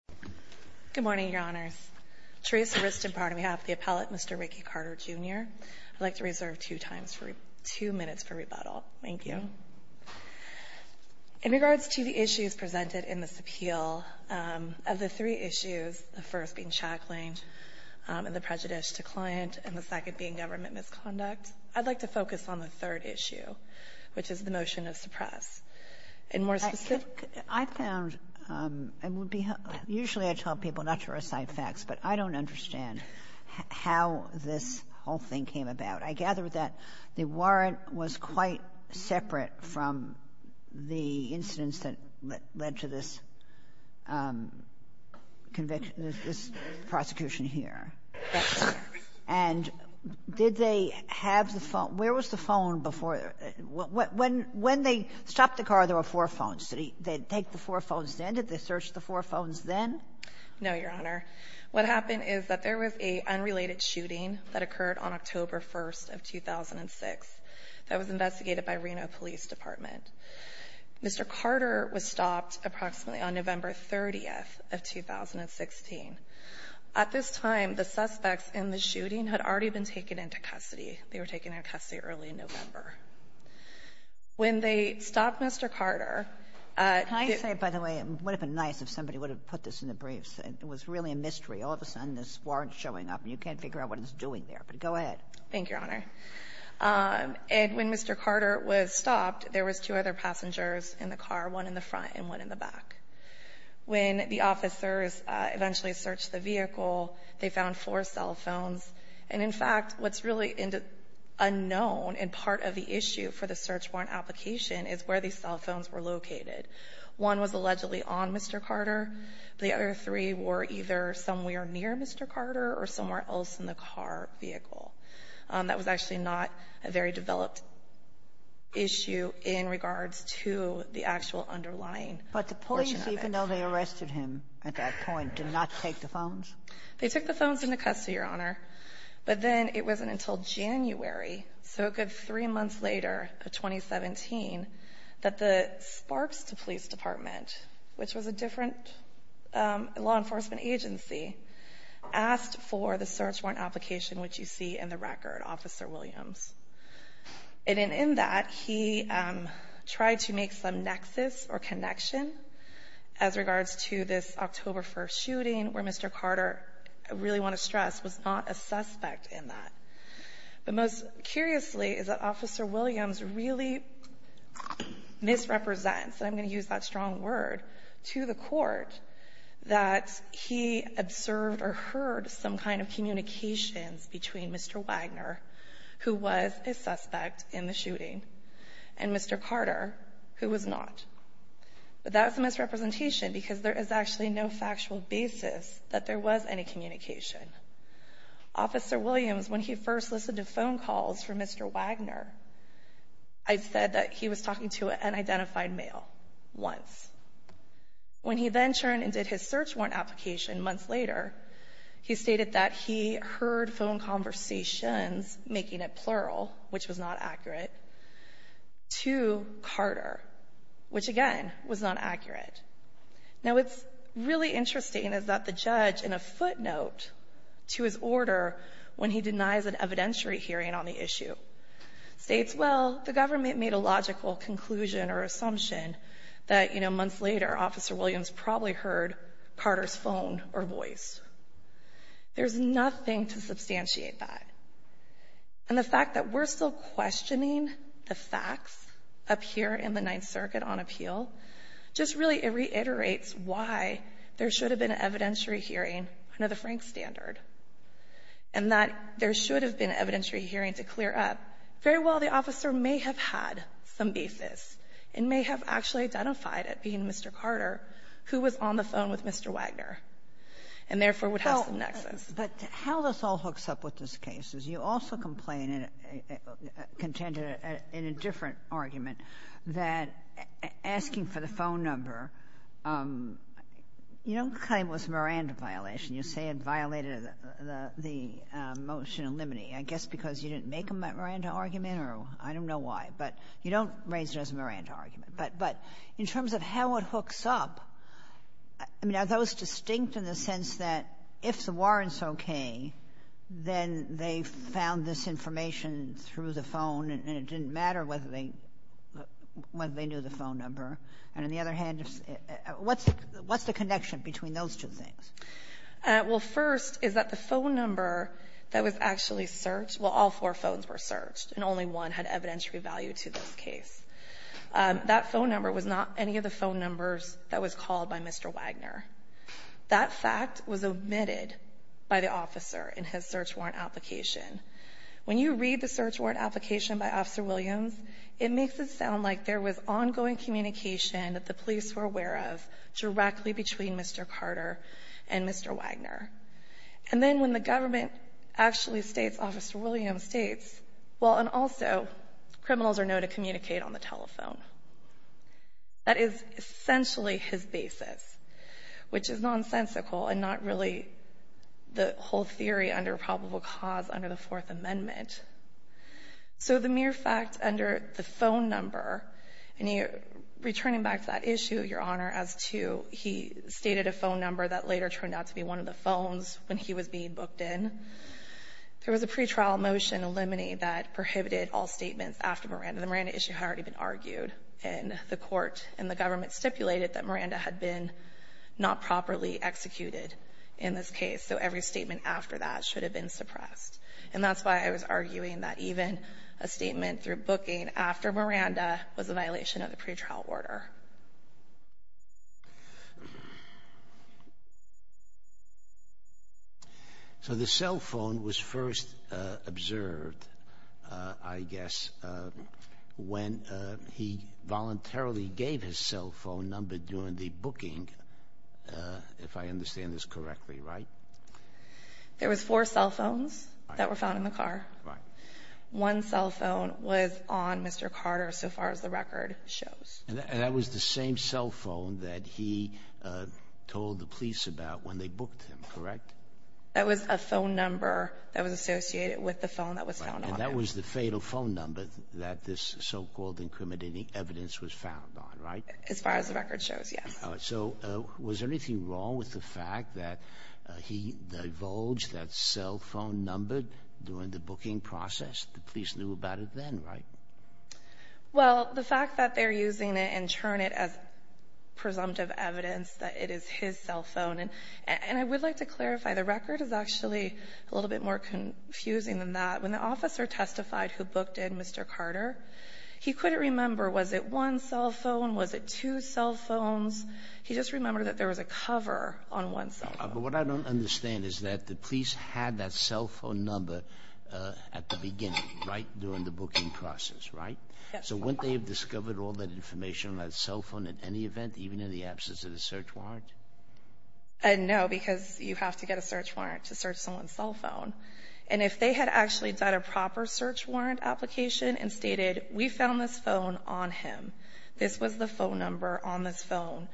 I would like to reserve two minutes for rebuttal. Thank you. In regards to the issues presented in this appeal, of the three issues, the first being shackling and the prejudice to client, and the second being government misconduct, I would like to focus on the third issue, which is the motion of suppress. And more specifically, I found it would be usually I tell people not to recite facts, but I don't understand how this whole thing came about. I gather that the warrant was quite separate from the incidents that led to this conviction, this prosecution here. And did they have the phone? Where was the phone before? When they stopped the car, there were four phones. Did they take the four phones then? Did they search the four phones then? No, Your Honor. What happened is that there was a unrelated shooting that occurred on October 1st of 2006 that was investigated by Reno Police Department. Mr. Carter was stopped approximately on November 30th of 2016. At this time, the suspects in the shooting had already been taken into custody. They were taken into custody early in November. When they stopped Mr. Carter at the ---- Kagan, I say, by the way, it would have been nice if somebody would have put this in the briefs. It was really a mystery. All of a sudden, this warrant's showing up, and you can't figure out what it's doing there. But go ahead. Thank you, Your Honor. And when Mr. Carter was stopped, there was two other passengers in the car, one in the front and one in the back. When the officers eventually searched the vehicle, they found four cell phones. And, in fact, what's really unknown and part of the issue for the search warrant application is where these cell phones were located. One was allegedly on Mr. Carter. The other three were either somewhere near Mr. Carter or somewhere else in the car vehicle. That was actually not a very developed issue in regards to the actual underlying ---- But the police, even though they arrested him at that point, did not take the phones? They took the phones into custody, Your Honor. But then it wasn't until January, so a good three months later, of 2017, that the Sparks Police Department, which was a different law enforcement agency, asked for the search warrant application, which you see in the record, Officer Williams. And in that, he tried to make some nexus or connection as regards to this October 1st shooting, where Mr. Carter, I really want to stress, was not a suspect in that. But most curiously is that Officer Williams really misrepresents, and I'm going to use that strong word, to the Court, that he observed or heard some kind of communications between Mr. Wagner, who was a suspect in the shooting, and Mr. Carter, who was not. But that was a misrepresentation because there is actually no factual basis that there was any communication. Officer Williams, when he first listened to phone calls from Mr. Wagner, I said that he was talking to an unidentified male once. When he then turned and did his search warrant application months later, he stated that he heard phone conversations, making it plural, which was not accurate, to Carter, which, again, was not accurate. Now, what's really interesting is that the judge, in a footnote to his order when he denies an evidentiary hearing on the issue, states, well, the government made a logical conclusion or assumption that, you know, months later, Officer Williams probably heard Carter's phone or voice. There's nothing to substantiate that. And the fact that we're still questioning the facts up here in the Ninth Circuit on appeal just really reiterates why there should have been an evidentiary hearing under the Frank standard and that there should have been an evidentiary hearing to clear up. Very well, the officer may have had some basis and may have actually identified it being Mr. Carter who was on the phone with Mr. Wagner and, therefore, would have some nexus. But how this all hooks up with this case is you also complain and contend in a different argument that asking for the phone number, you don't claim it was a Miranda violation. You say it violated the motion in limine. I guess because you didn't make a Miranda argument or I don't know why. But you don't raise it as a Miranda argument. But in terms of how it hooks up, I mean, are those distinct in the sense that if the phone number was for Lawrence O.K., then they found this information through the phone, and it didn't matter whether they knew the phone number? And on the other hand, what's the connection between those two things? Well, first is that the phone number that was actually searched, well, all four phones were searched, and only one had evidentiary value to this case. That phone number was not any of the phone numbers that was called by Mr. Wagner. That fact was omitted by the officer in his search warrant application. When you read the search warrant application by Officer Williams, it makes it sound like there was ongoing communication that the police were aware of directly between Mr. Carter and Mr. Wagner. And then when the government actually states, Officer Williams states, well, and also, criminals are known to communicate on the telephone. That is essentially his basis, which is nonsensical and not really a good way to put the whole theory under probable cause under the Fourth Amendment. So the mere fact under the phone number, and you're returning back to that issue, Your Honor, as to he stated a phone number that later turned out to be one of the phones when he was being booked in. There was a pretrial motion, a limine that prohibited all statements after Miranda. The Miranda issue had already been argued, and the every statement after that should have been suppressed. And that's why I was arguing that even a statement through booking after Miranda was a violation of the pretrial order. So the cell phone was first observed, I guess, when he voluntarily gave his cell phone during the booking, if I understand this correctly, right? There was four cell phones that were found in the car. One cell phone was on Mr. Carter so far as the record shows. And that was the same cell phone that he told the police about when they booked him, correct? That was a phone number that was associated with the phone that was found on him. That was the fatal phone number that this so-called incriminating evidence was found on, right? As far as the record shows, yes. So was there anything wrong with the fact that he divulged that cell phone number during the booking process? The police knew about it then, right? Well, the fact that they're using it and turn it as presumptive evidence that it is his cell phone, and I would like to clarify, the record is actually a little bit more confusing than that. When the officer testified who booked in Mr. Carter, he couldn't remember was it one cell phone, was it two cell phones? He just remembered that there was a cover on one cell phone. But what I don't understand is that the police had that cell phone number at the beginning, right, during the booking process, right? Yes. So wouldn't they have discovered all that information on that cell phone at any event, even in the absence of the search warrant? No, because you have to get a search warrant to search someone's cell phone. And if they had actually done a proper search warrant application and stated, we found this phone on him, this was the phone number on this phone,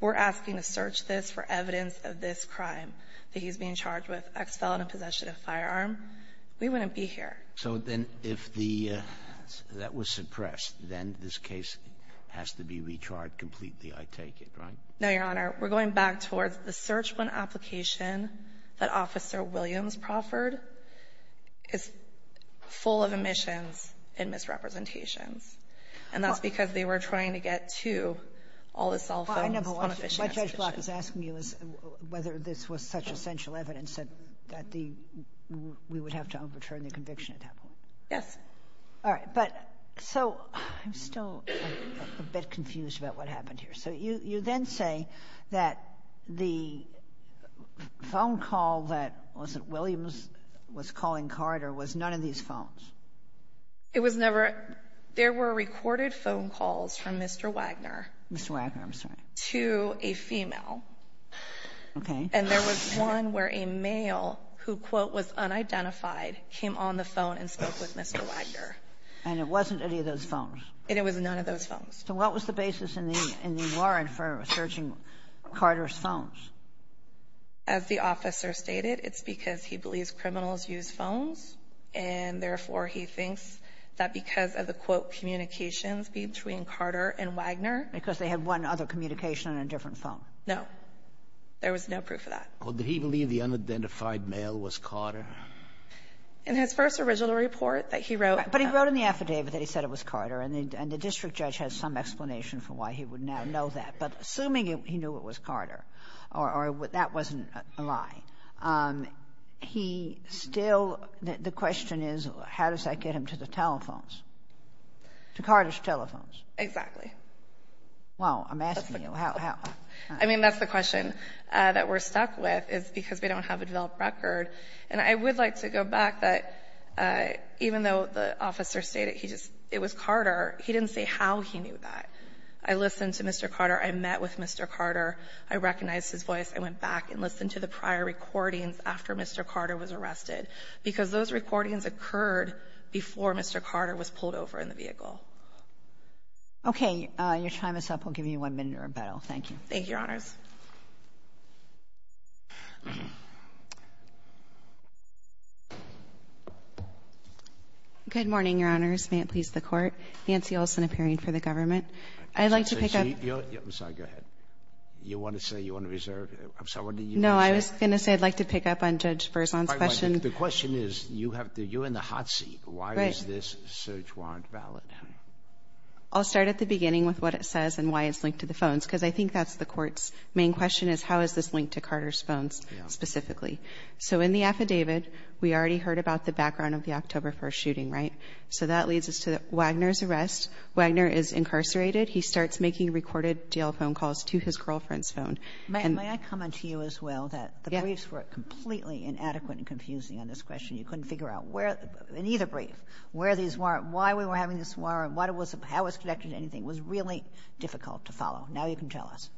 we're asking to search this for evidence of this crime that he's being charged with, ex-felon in possession of a firearm, we wouldn't be here. So then if the that was suppressed, then this case has to be recharged completely, I take it, right? No, Your Honor. We're going back towards the search warrant application that Officer Williams proffered is full of omissions and misrepresentations. And that's because they were trying to get to all the cell phones on a fishing association. My judge block is asking you whether this was such essential evidence that the we would have to overturn the conviction at that point. Yes. All right. But so I'm still a bit confused about what happened here. So you then say that the phone call that, was it Williams was calling Carter? Was none of these phones? It was never. There were recorded phone calls from Mr. Wagner. Mr. Wagner. I'm sorry. To a female. Okay. And there was one where a male who, quote, was unidentified came on the phone and spoke with Mr. Wagner. And it wasn't any of those phones? It was none of those phones. So what was the basis in the warrant for searching Carter's phones? As the officer stated, it's because he believes criminals use phones, and therefore he thinks that because of the, quote, communications between Carter and Wagner. Because they had one other communication on a different phone. No. There was no proof of that. Well, did he believe the unidentified male was Carter? In his first original report, he wrote that he wrote in the affidavit that he said it was Carter, and the district judge had some explanation for why he would now know that. But assuming he knew it was Carter, or that wasn't a lie, he still — the question is, how does that get him to the telephones, to Carter's telephones? Exactly. Well, I'm asking you. I mean, that's the question that we're stuck with, is because we don't have a developed record. And I would like to go back that even though the officer stated he just — it was Carter, he didn't say how he knew that. I listened to Mr. Carter. I met with Mr. Carter. I recognized his voice. I went back and listened to the prior recordings after Mr. Carter was arrested. Because those recordings occurred before Mr. Carter was pulled over in the vehicle. Okay. Your time is up. I'll give you one minute or a battle. Thank you. Thank you, Your Honors. Good morning, Your Honors. May it please the Court. Nancy Olson, appearing for the government. I'd like to pick up — Sorry, go ahead. You want to say you want to reserve? No, I was going to say I'd like to pick up on Judge Berzon's question. The question is, you have to — you're in the hot seat. Right. Why is this search warrant valid? I'll start at the beginning with what it says and why it's linked to the phones. Because I think that's the Court's main question, is how is this linked to Carter's phones specifically? So in the affidavit, we already heard about the background of the October 1st shooting, right? So that leads us to Wagner's arrest. Wagner is incarcerated. He starts making recorded DL phone calls to his girlfriend's phone. May I comment to you as well that the briefs were completely inadequate and confusing on this question. You couldn't figure out where — in either brief, where these were, why we were having this warrant, what it was — how it was connected to anything. It was really difficult to follow. Now you can tell us.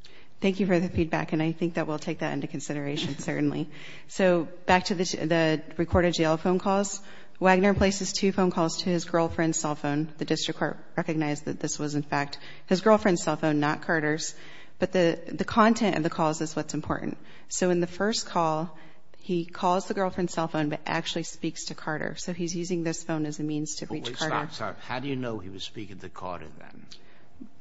Thank you for the feedback. And I think that we'll take that into consideration, certainly. So back to the recorded DL phone calls, Wagner places two phone calls to his girlfriend's cell phone. The district court recognized that this was, in fact, his girlfriend's cell phone, not Carter's. But the content of the calls is what's important. So in the first call, he calls the girlfriend's cell phone but actually speaks to Carter. So he's using this phone as a means to reach Carter. Wait. Stop. How do you know he was speaking to Carter then?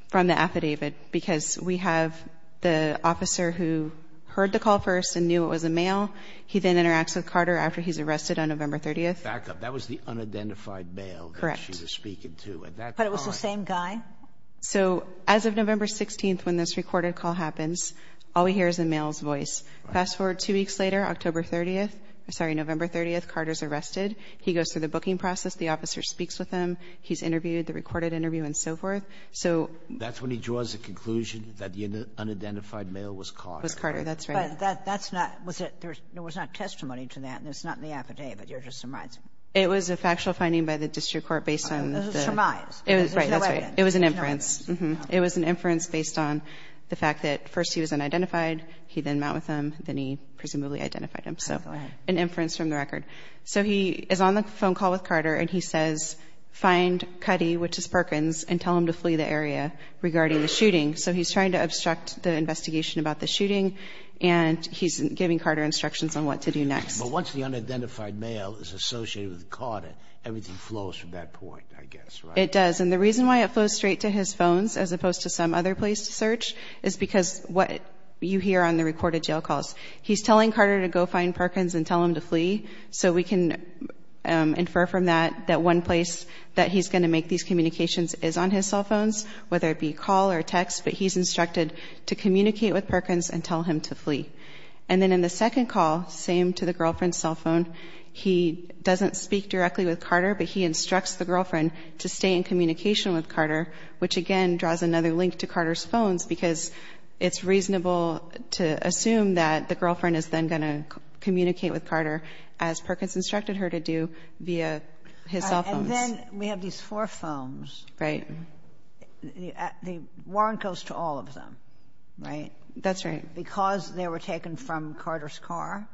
From the affidavit, because we have the officer who heard the call first and knew it was a male. He then interacts with Carter after he's arrested on November 30th. Back up. That was the unidentified male that she was speaking to. Correct. But it was the same guy? So as of November 16th, when this recorded call happens, all we hear is the male's voice. Fast forward two weeks later, October 30th — sorry, November 30th, Carter's arrested. He goes through the booking process. The officer speaks with him. He's interviewed, the recorded interview, and so forth. So — That's when he draws a conclusion that the unidentified male was Carter. Was Carter. That's right. But that's not — was it — there was not testimony to that. And it's not in the affidavit. You're just surmising. It was a factual finding by the district court based on the — It was surmised. Right. That's right. It was an inference. It was an inference based on the fact that first he was unidentified. He then met with him. Then he presumably identified him. So an inference from the record. So he is on the phone call with Carter, and he says, find Cuddy, which is Perkins, and tell him to flee the area regarding the shooting. So he's trying to obstruct the investigation about the shooting, and he's giving Carter instructions on what to do next. But once the unidentified male is associated with Carter, everything flows from that point, I guess, right? It does. And the reason why it flows straight to his phones as opposed to some other place to search is because what you hear on the recorded jail calls. He's telling Carter to go find Perkins and tell him to flee. So we can infer from that that one place that he's going to make these communications is on his cell phones, whether it be call or text. But he's instructed to communicate with Perkins and tell him to flee. And then in the second call, same to the girlfriend's cell phone, he doesn't speak directly with Carter, but he instructs the girlfriend to stay in communication with Carter, which again draws another link to Carter's phones, because it's reasonable to assume that the girlfriend is then going to communicate with Carter as Perkins instructed her to do via his cell phones. And then we have these four phones. Right. The warrant goes to all of them, right? That's right. Because they were taken from Carter's car?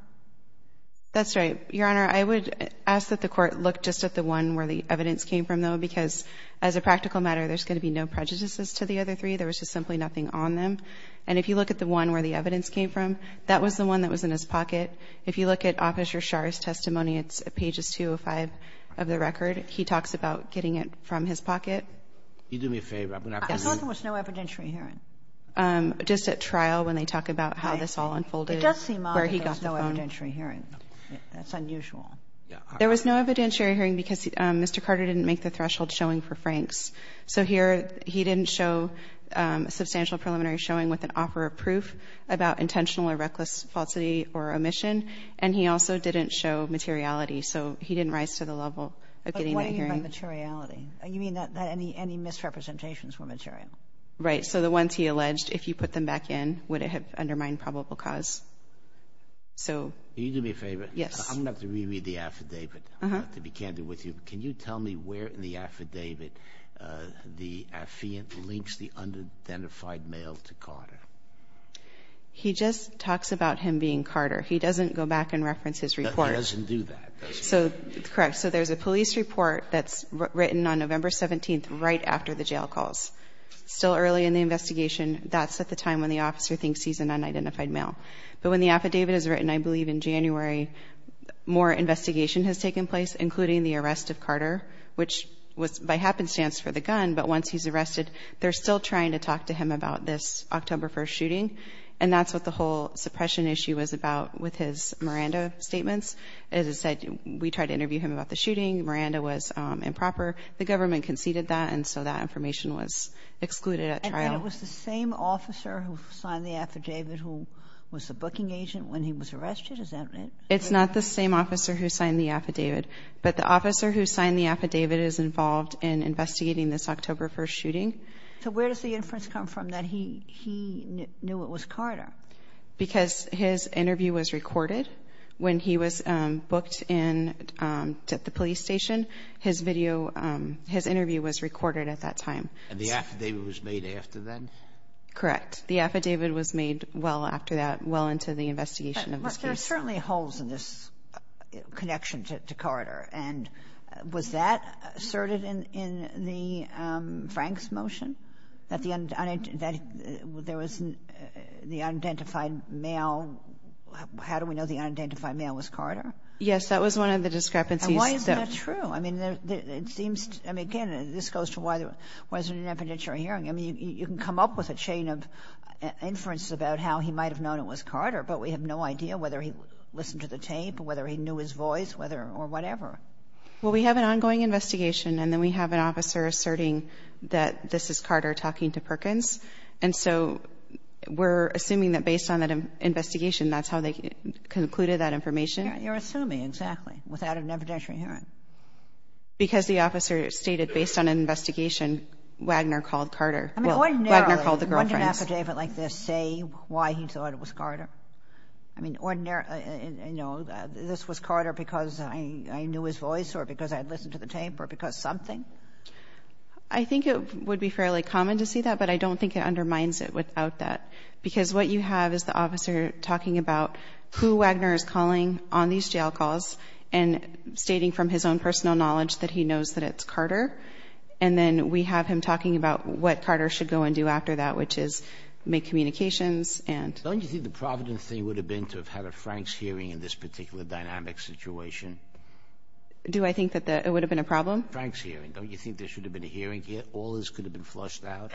That's right. Your Honor, I would ask that the Court look just at the one where the evidence came from, though, because as a practical matter, there's going to be no prejudices to the other three. There was just simply nothing on them. And if you look at the one where the evidence came from, that was the one that was in his pocket. If you look at Officer Schar's testimony, it's pages 205 of the record. He talks about getting it from his pocket. You do me a favor. I'm going to have to leave. I thought there was no evidentiary hearing. Just at trial when they talk about how this all unfolded. It does seem odd that there's no evidentiary hearing. That's unusual. There was no evidentiary hearing because Mr. Carter didn't make the threshold showing for Franks. So here he didn't show a substantial preliminary showing with an offer of proof about intentional or reckless falsity or omission. And he also didn't show materiality. So he didn't rise to the level of getting that hearing. But what do you mean by materiality? You mean that any misrepresentations were material? Right. So the ones he alleged, if you put them back in, would it have undermined probable cause? So you do me a favor. Yes. I'm going to have to reread the affidavit. I'm going to have to be candid with you. Can you tell me where in the affidavit the affiant links the unidentified male to Carter? He just talks about him being Carter. He doesn't go back and reference his report. He doesn't do that, does he? So correct. So there's a police report that's written on November 17th right after the jail calls. It's still early in the investigation. That's at the time when the officer thinks he's an unidentified male. But when the affidavit is written, I believe in January, more investigation has taken place, including the arrest of Carter, which was by happenstance for the gun. But once he's arrested, they're still trying to talk to him about this October 1st shooting. And that's what the whole suppression issue was about with his Miranda statements. As I said, we tried to interview him about the shooting. Miranda was improper. The government conceded that, and so that information was excluded at trial. And it was the same officer who signed the affidavit who was the booking agent when he was arrested? Is that right? It's not the same officer who signed the affidavit. But the officer who signed the affidavit is involved in investigating this October 1st shooting. So where does the inference come from? That he knew it was Carter? Because his interview was recorded when he was booked in at the police station. His video, his interview was recorded at that time. And the affidavit was made after then? Correct. The affidavit was made well after that, well into the investigation of this case. But there are certainly holes in this connection to Carter. And was that asserted in the Franks motion, that the unidentified male was Carter? Yes. That was one of the discrepancies. And why is that true? I mean, it seems to me, again, this goes to why there wasn't an evidentiary hearing. I mean, you can come up with a chain of inferences about how he might have known it was Carter, but we have no idea whether he listened to the tape, whether he knew his voice, whether or whatever. Well, we have an ongoing investigation, and then we have an officer asserting that this is Carter talking to Perkins. And so we're assuming that based on that investigation, that's how they concluded that information. You're assuming, exactly, without an evidentiary hearing. Because the officer stated, based on an investigation, Wagner called Carter. I mean, ordinarily, wouldn't an affidavit like this say why he thought it was Carter? I mean, ordinarily, you know, this was Carter because I knew his voice or because I had listened to the tape or because something? I think it would be fairly common to see that, but I don't think it undermines it without that. Because what you have is the officer talking about who Wagner is calling on these jail calls and stating from his own personal knowledge that he knows that it's Carter. And then we have him talking about what Carter should go and do after that, which is make communications and so on. Sotomayor, don't you think the provident thing would have been to have had a Franks hearing in this particular dynamic situation? Do I think that it would have been a problem? Franks hearing. Don't you think there should have been a hearing? All this could have been flushed out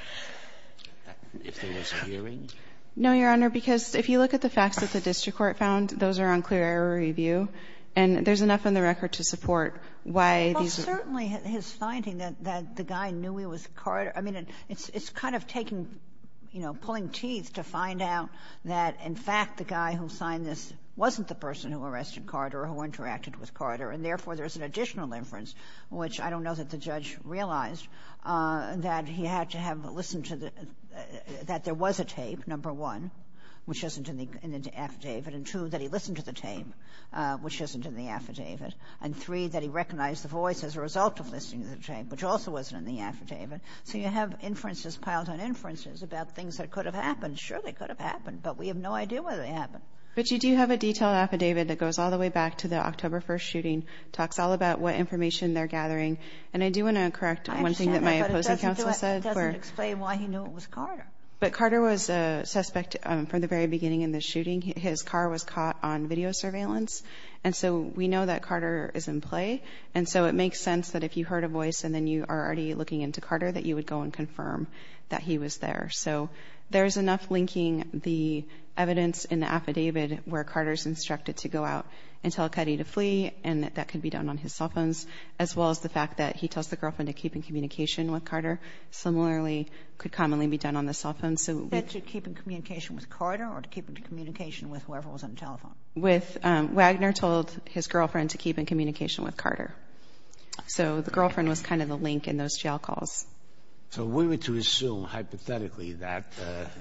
if there was a hearing? No, Your Honor, because if you look at the facts that the district court found, those are on clear error review. And there's enough on the record to support why these are the facts. Well, certainly his finding that the guy knew he was Carter, I mean, it's kind of taking you know, pulling teeth to find out that, in fact, the guy who signed this wasn't the person who arrested Carter or who interacted with Carter, and therefore, there's an additional inference, which I don't know that the judge realized, that he had to have listened to the — that there was a tape, number one, which isn't in the affidavit, and, two, that he listened to the tape, which isn't in the affidavit, and, three, that he recognized the voice as a result of listening to the tape, which also wasn't in the affidavit. So you have inferences, piled on inferences, about things that could have happened. Sure, they could have happened, but we have no idea whether they happened. But you do have a detailed affidavit that goes all the way back to the October 1st shooting, talks all about what information they're gathering. And I do want to correct one thing that my opposing counsel said, where — I understand that, but it doesn't do it. It doesn't explain why he knew it was Carter. But Carter was a suspect from the very beginning in the shooting. His car was caught on video surveillance. And so we know that Carter is in play. And so it makes sense that if you heard a voice and then you are already looking into Carter, that you would go and confirm that he was there. So there is enough linking the evidence in the affidavit where Carter is instructed to go out and tell Cuddy to flee, and that that could be done on his cell phones, as well as the fact that he tells the girlfriend to keep in communication with Carter, similarly could commonly be done on the cell phone. So — That you keep in communication with Carter or to keep in communication with whoever was on the telephone? With — Wagner told his girlfriend to keep in communication with Carter. So the girlfriend was kind of the link in those jail calls. So if we were to assume hypothetically that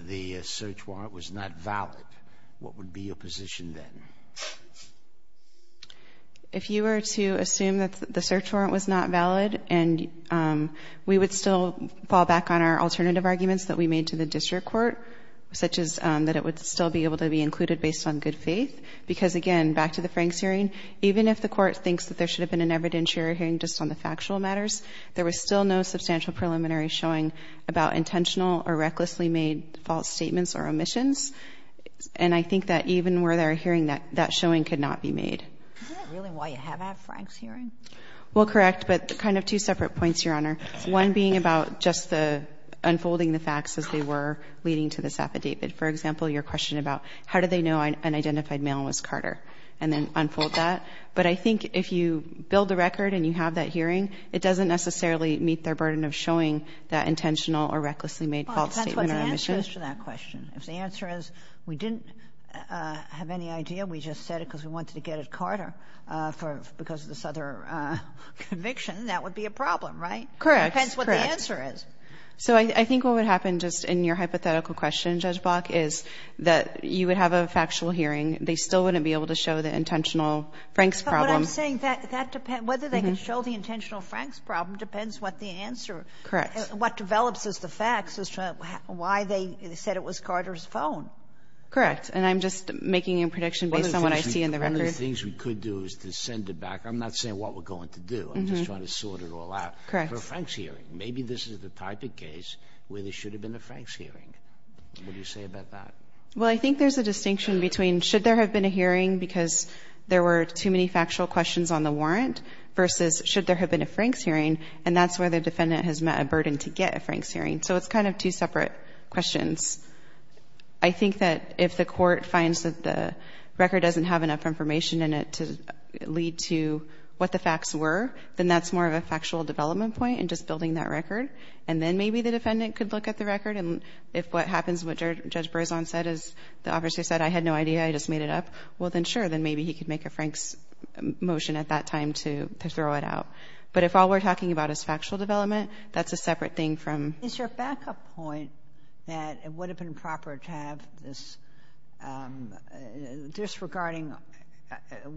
the search warrant was not valid, what would be your position then? If you were to assume that the search warrant was not valid and we would still fall back on our alternative arguments that we made to the district court, such as that it would still be able to be included based on good faith, because, again, back to the Franks hearing, even if the Court thinks that there should have been an evidentiary hearing just on the factual matters, there was still no substantial preliminary showing about intentional or recklessly made false statements or omissions. And I think that even were there a hearing, that showing could not be made. Is that really why you have that Franks hearing? Well, correct, but kind of two separate points, Your Honor, one being about just the unfolding the facts as they were leading to this affidavit. For example, your question about how do they know an identified male was Carter and then unfold that. But I think if you build a record and you have that hearing, it doesn't necessarily meet their burden of showing that intentional or recklessly made false statement or omission. Well, if that's what the answer is to that question, if the answer is we didn't have any idea, we just said it because we wanted to get at Carter because of this other conviction, that would be a problem, right? Correct. That's what the answer is. So I think what would happen just in your hypothetical question, Judge Block, is that you would have a factual hearing. They still wouldn't be able to show the intentional Franks problem. But what I'm saying, that depends. Whether they can show the intentional Franks problem depends what the answer. Correct. What develops as the facts as to why they said it was Carter's phone. Correct. And I'm just making a prediction based on what I see in the record. One of the things we could do is to send it back. I'm not saying what we're going to do. I'm just trying to sort it all out. Correct. For a Franks hearing, maybe this is the type of case where there should have been a Franks hearing. What do you say about that? Well, I think there's a distinction between should there have been a hearing because there were too many factual questions on the warrant versus should there have been a Franks hearing, and that's where the defendant has met a burden to get a Franks hearing. So it's kind of two separate questions. I think that if the court finds that the record doesn't have enough information in it to lead to what the facts were, then that's more of a factual development point in just building that record. And then maybe the defendant could look at the record, and if what happens, what Judge Berzon said, is the officer said, I had no idea, I just made it up, well, then sure, then maybe he could make a Franks motion at that time to throw it out. But if all we're talking about is factual development, that's a separate thing from ---- Yes, there's a lot in the declaration because it talks about the one-up ---- there who was on the phone with Carter that it would have been proper to have this ---- disregarding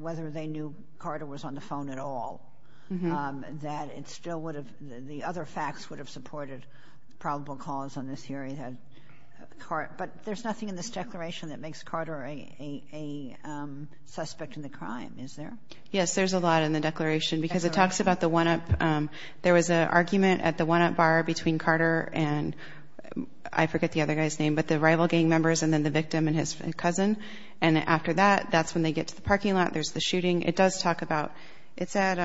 whether they knew Carter was on the phone at all, that it still would have ---- the other facts would have supported probable cause on this hearing. But there's nothing in this declaration that makes Carter a suspect in the crime, is there? Yes, there's a lot in the declaration because it talks about the one-up ---- there was an argument at the one-up bar between Carter and, I forget the other guy's name, but the rival gang members and then the victim and his cousin, and after that, that's when they get to the parking lot, there's the shooting. It does talk about ---- it's at,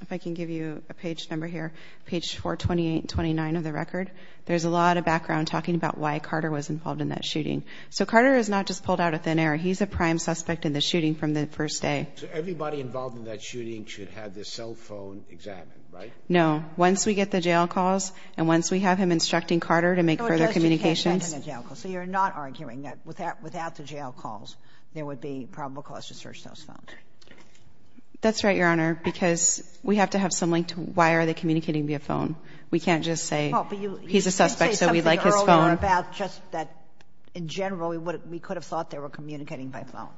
if I can give you a page number here, page 428-29 of the record, there's a lot of background talking about why Carter was involved in that shooting. So Carter is not just pulled out of thin air, he's a prime suspect in the first day. So everybody involved in that shooting should have their cell phone examined, right? No. Once we get the jail calls and once we have him instructing Carter to make further communications ---- So it doesn't take that in a jail call. So you're not arguing that without the jail calls, there would be probable cause to search those phones? That's right, Your Honor, because we have to have some link to why are they We can't just say he's a suspect so we like his phone. Well, but you did say something earlier about just that, in general, we could have thought they were communicating by phone.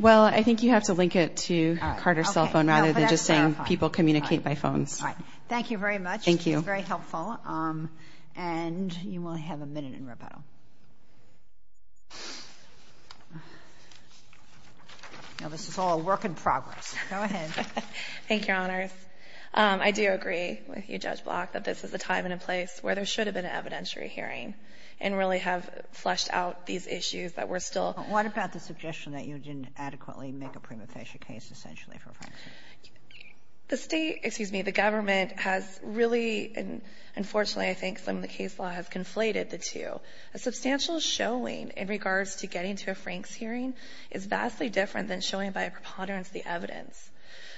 Well, I think you have to link it to Carter's cell phone rather than just saying people communicate by phones. All right. Thank you very much. Thank you. It was very helpful. And you will have a minute in rebuttal. Now, this is all a work in progress. Go ahead. Thank you, Your Honors. I do agree with you, Judge Block, that this is a time and a place where there should have been an evidentiary hearing and really have fleshed out these issues that we're still What about the suggestion that you didn't adequately make a prima facie case, essentially, for Frank's case? The State, excuse me, the government has really, and unfortunately, I think some of the case law has conflated the two. A substantial showing in regards to getting to a Frank's hearing is vastly different than showing by a preponderance the evidence.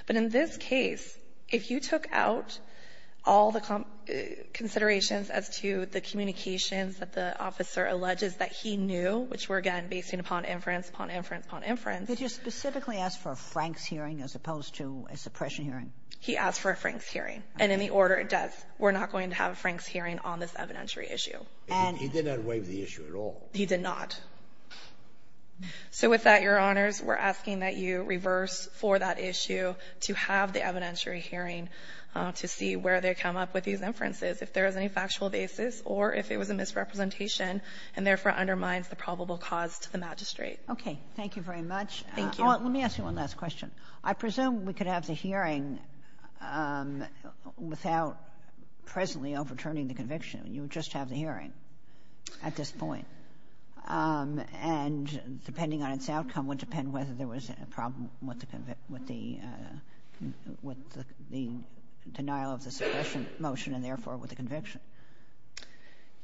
But in this case, if you took out all the considerations as to the communications that the officer alleges that he knew, which were, again, based upon inference, upon inference, upon inference. Did you specifically ask for a Frank's hearing as opposed to a suppression hearing? He asked for a Frank's hearing. And in the order it does, we're not going to have a Frank's hearing on this evidentiary issue. He did not waive the issue at all. He did not. So with that, Your Honors, we're asking that you reverse for that issue to have the evidentiary hearing to see where they come up with these inferences, if there is any misrepresentation, and therefore undermines the probable cause to the magistrate. Okay. Thank you very much. Thank you. Let me ask you one last question. I presume we could have the hearing without presently overturning the conviction. You would just have the hearing at this point. And depending on its outcome would depend whether there was a problem with the denial of the suppression motion and, therefore, with the conviction.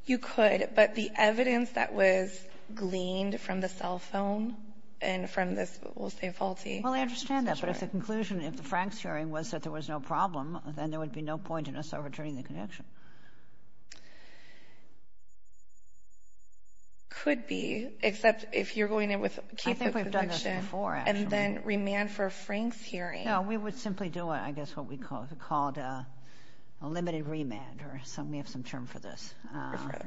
You could. But the evidence that was gleaned from the cell phone and from this, we'll say, faulty Well, I understand that. But it's a conclusion. If the Frank's hearing was that there was no problem, then there would be no point in us overturning the conviction. Could be, except if you're going in with a key for conviction. I think we've done this before, actually. And then remand for a Frank's hearing. No, we would simply do, I guess, what we called a limited remand. We have some term for this,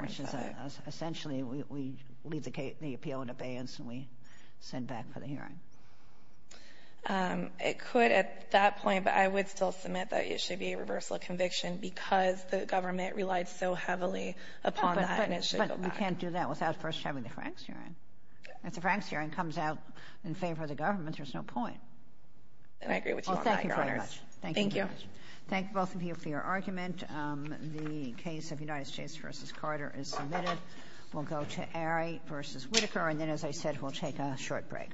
which is essentially we leave the appeal in abeyance and we send back for the hearing. It could at that point, but I would still submit that it should be a reversal conviction because the government relied so heavily upon that. But you can't do that without first having the Frank's hearing. If the Frank's hearing comes out in favor of the government, there's no point. And I agree with you on that, Your Honors. Well, thank you very much. Thank you. Thank you both of you for your argument. The case of United States v. Carter is submitted. We'll go to Arie v. Whitaker and then, as I said, we'll take a short break.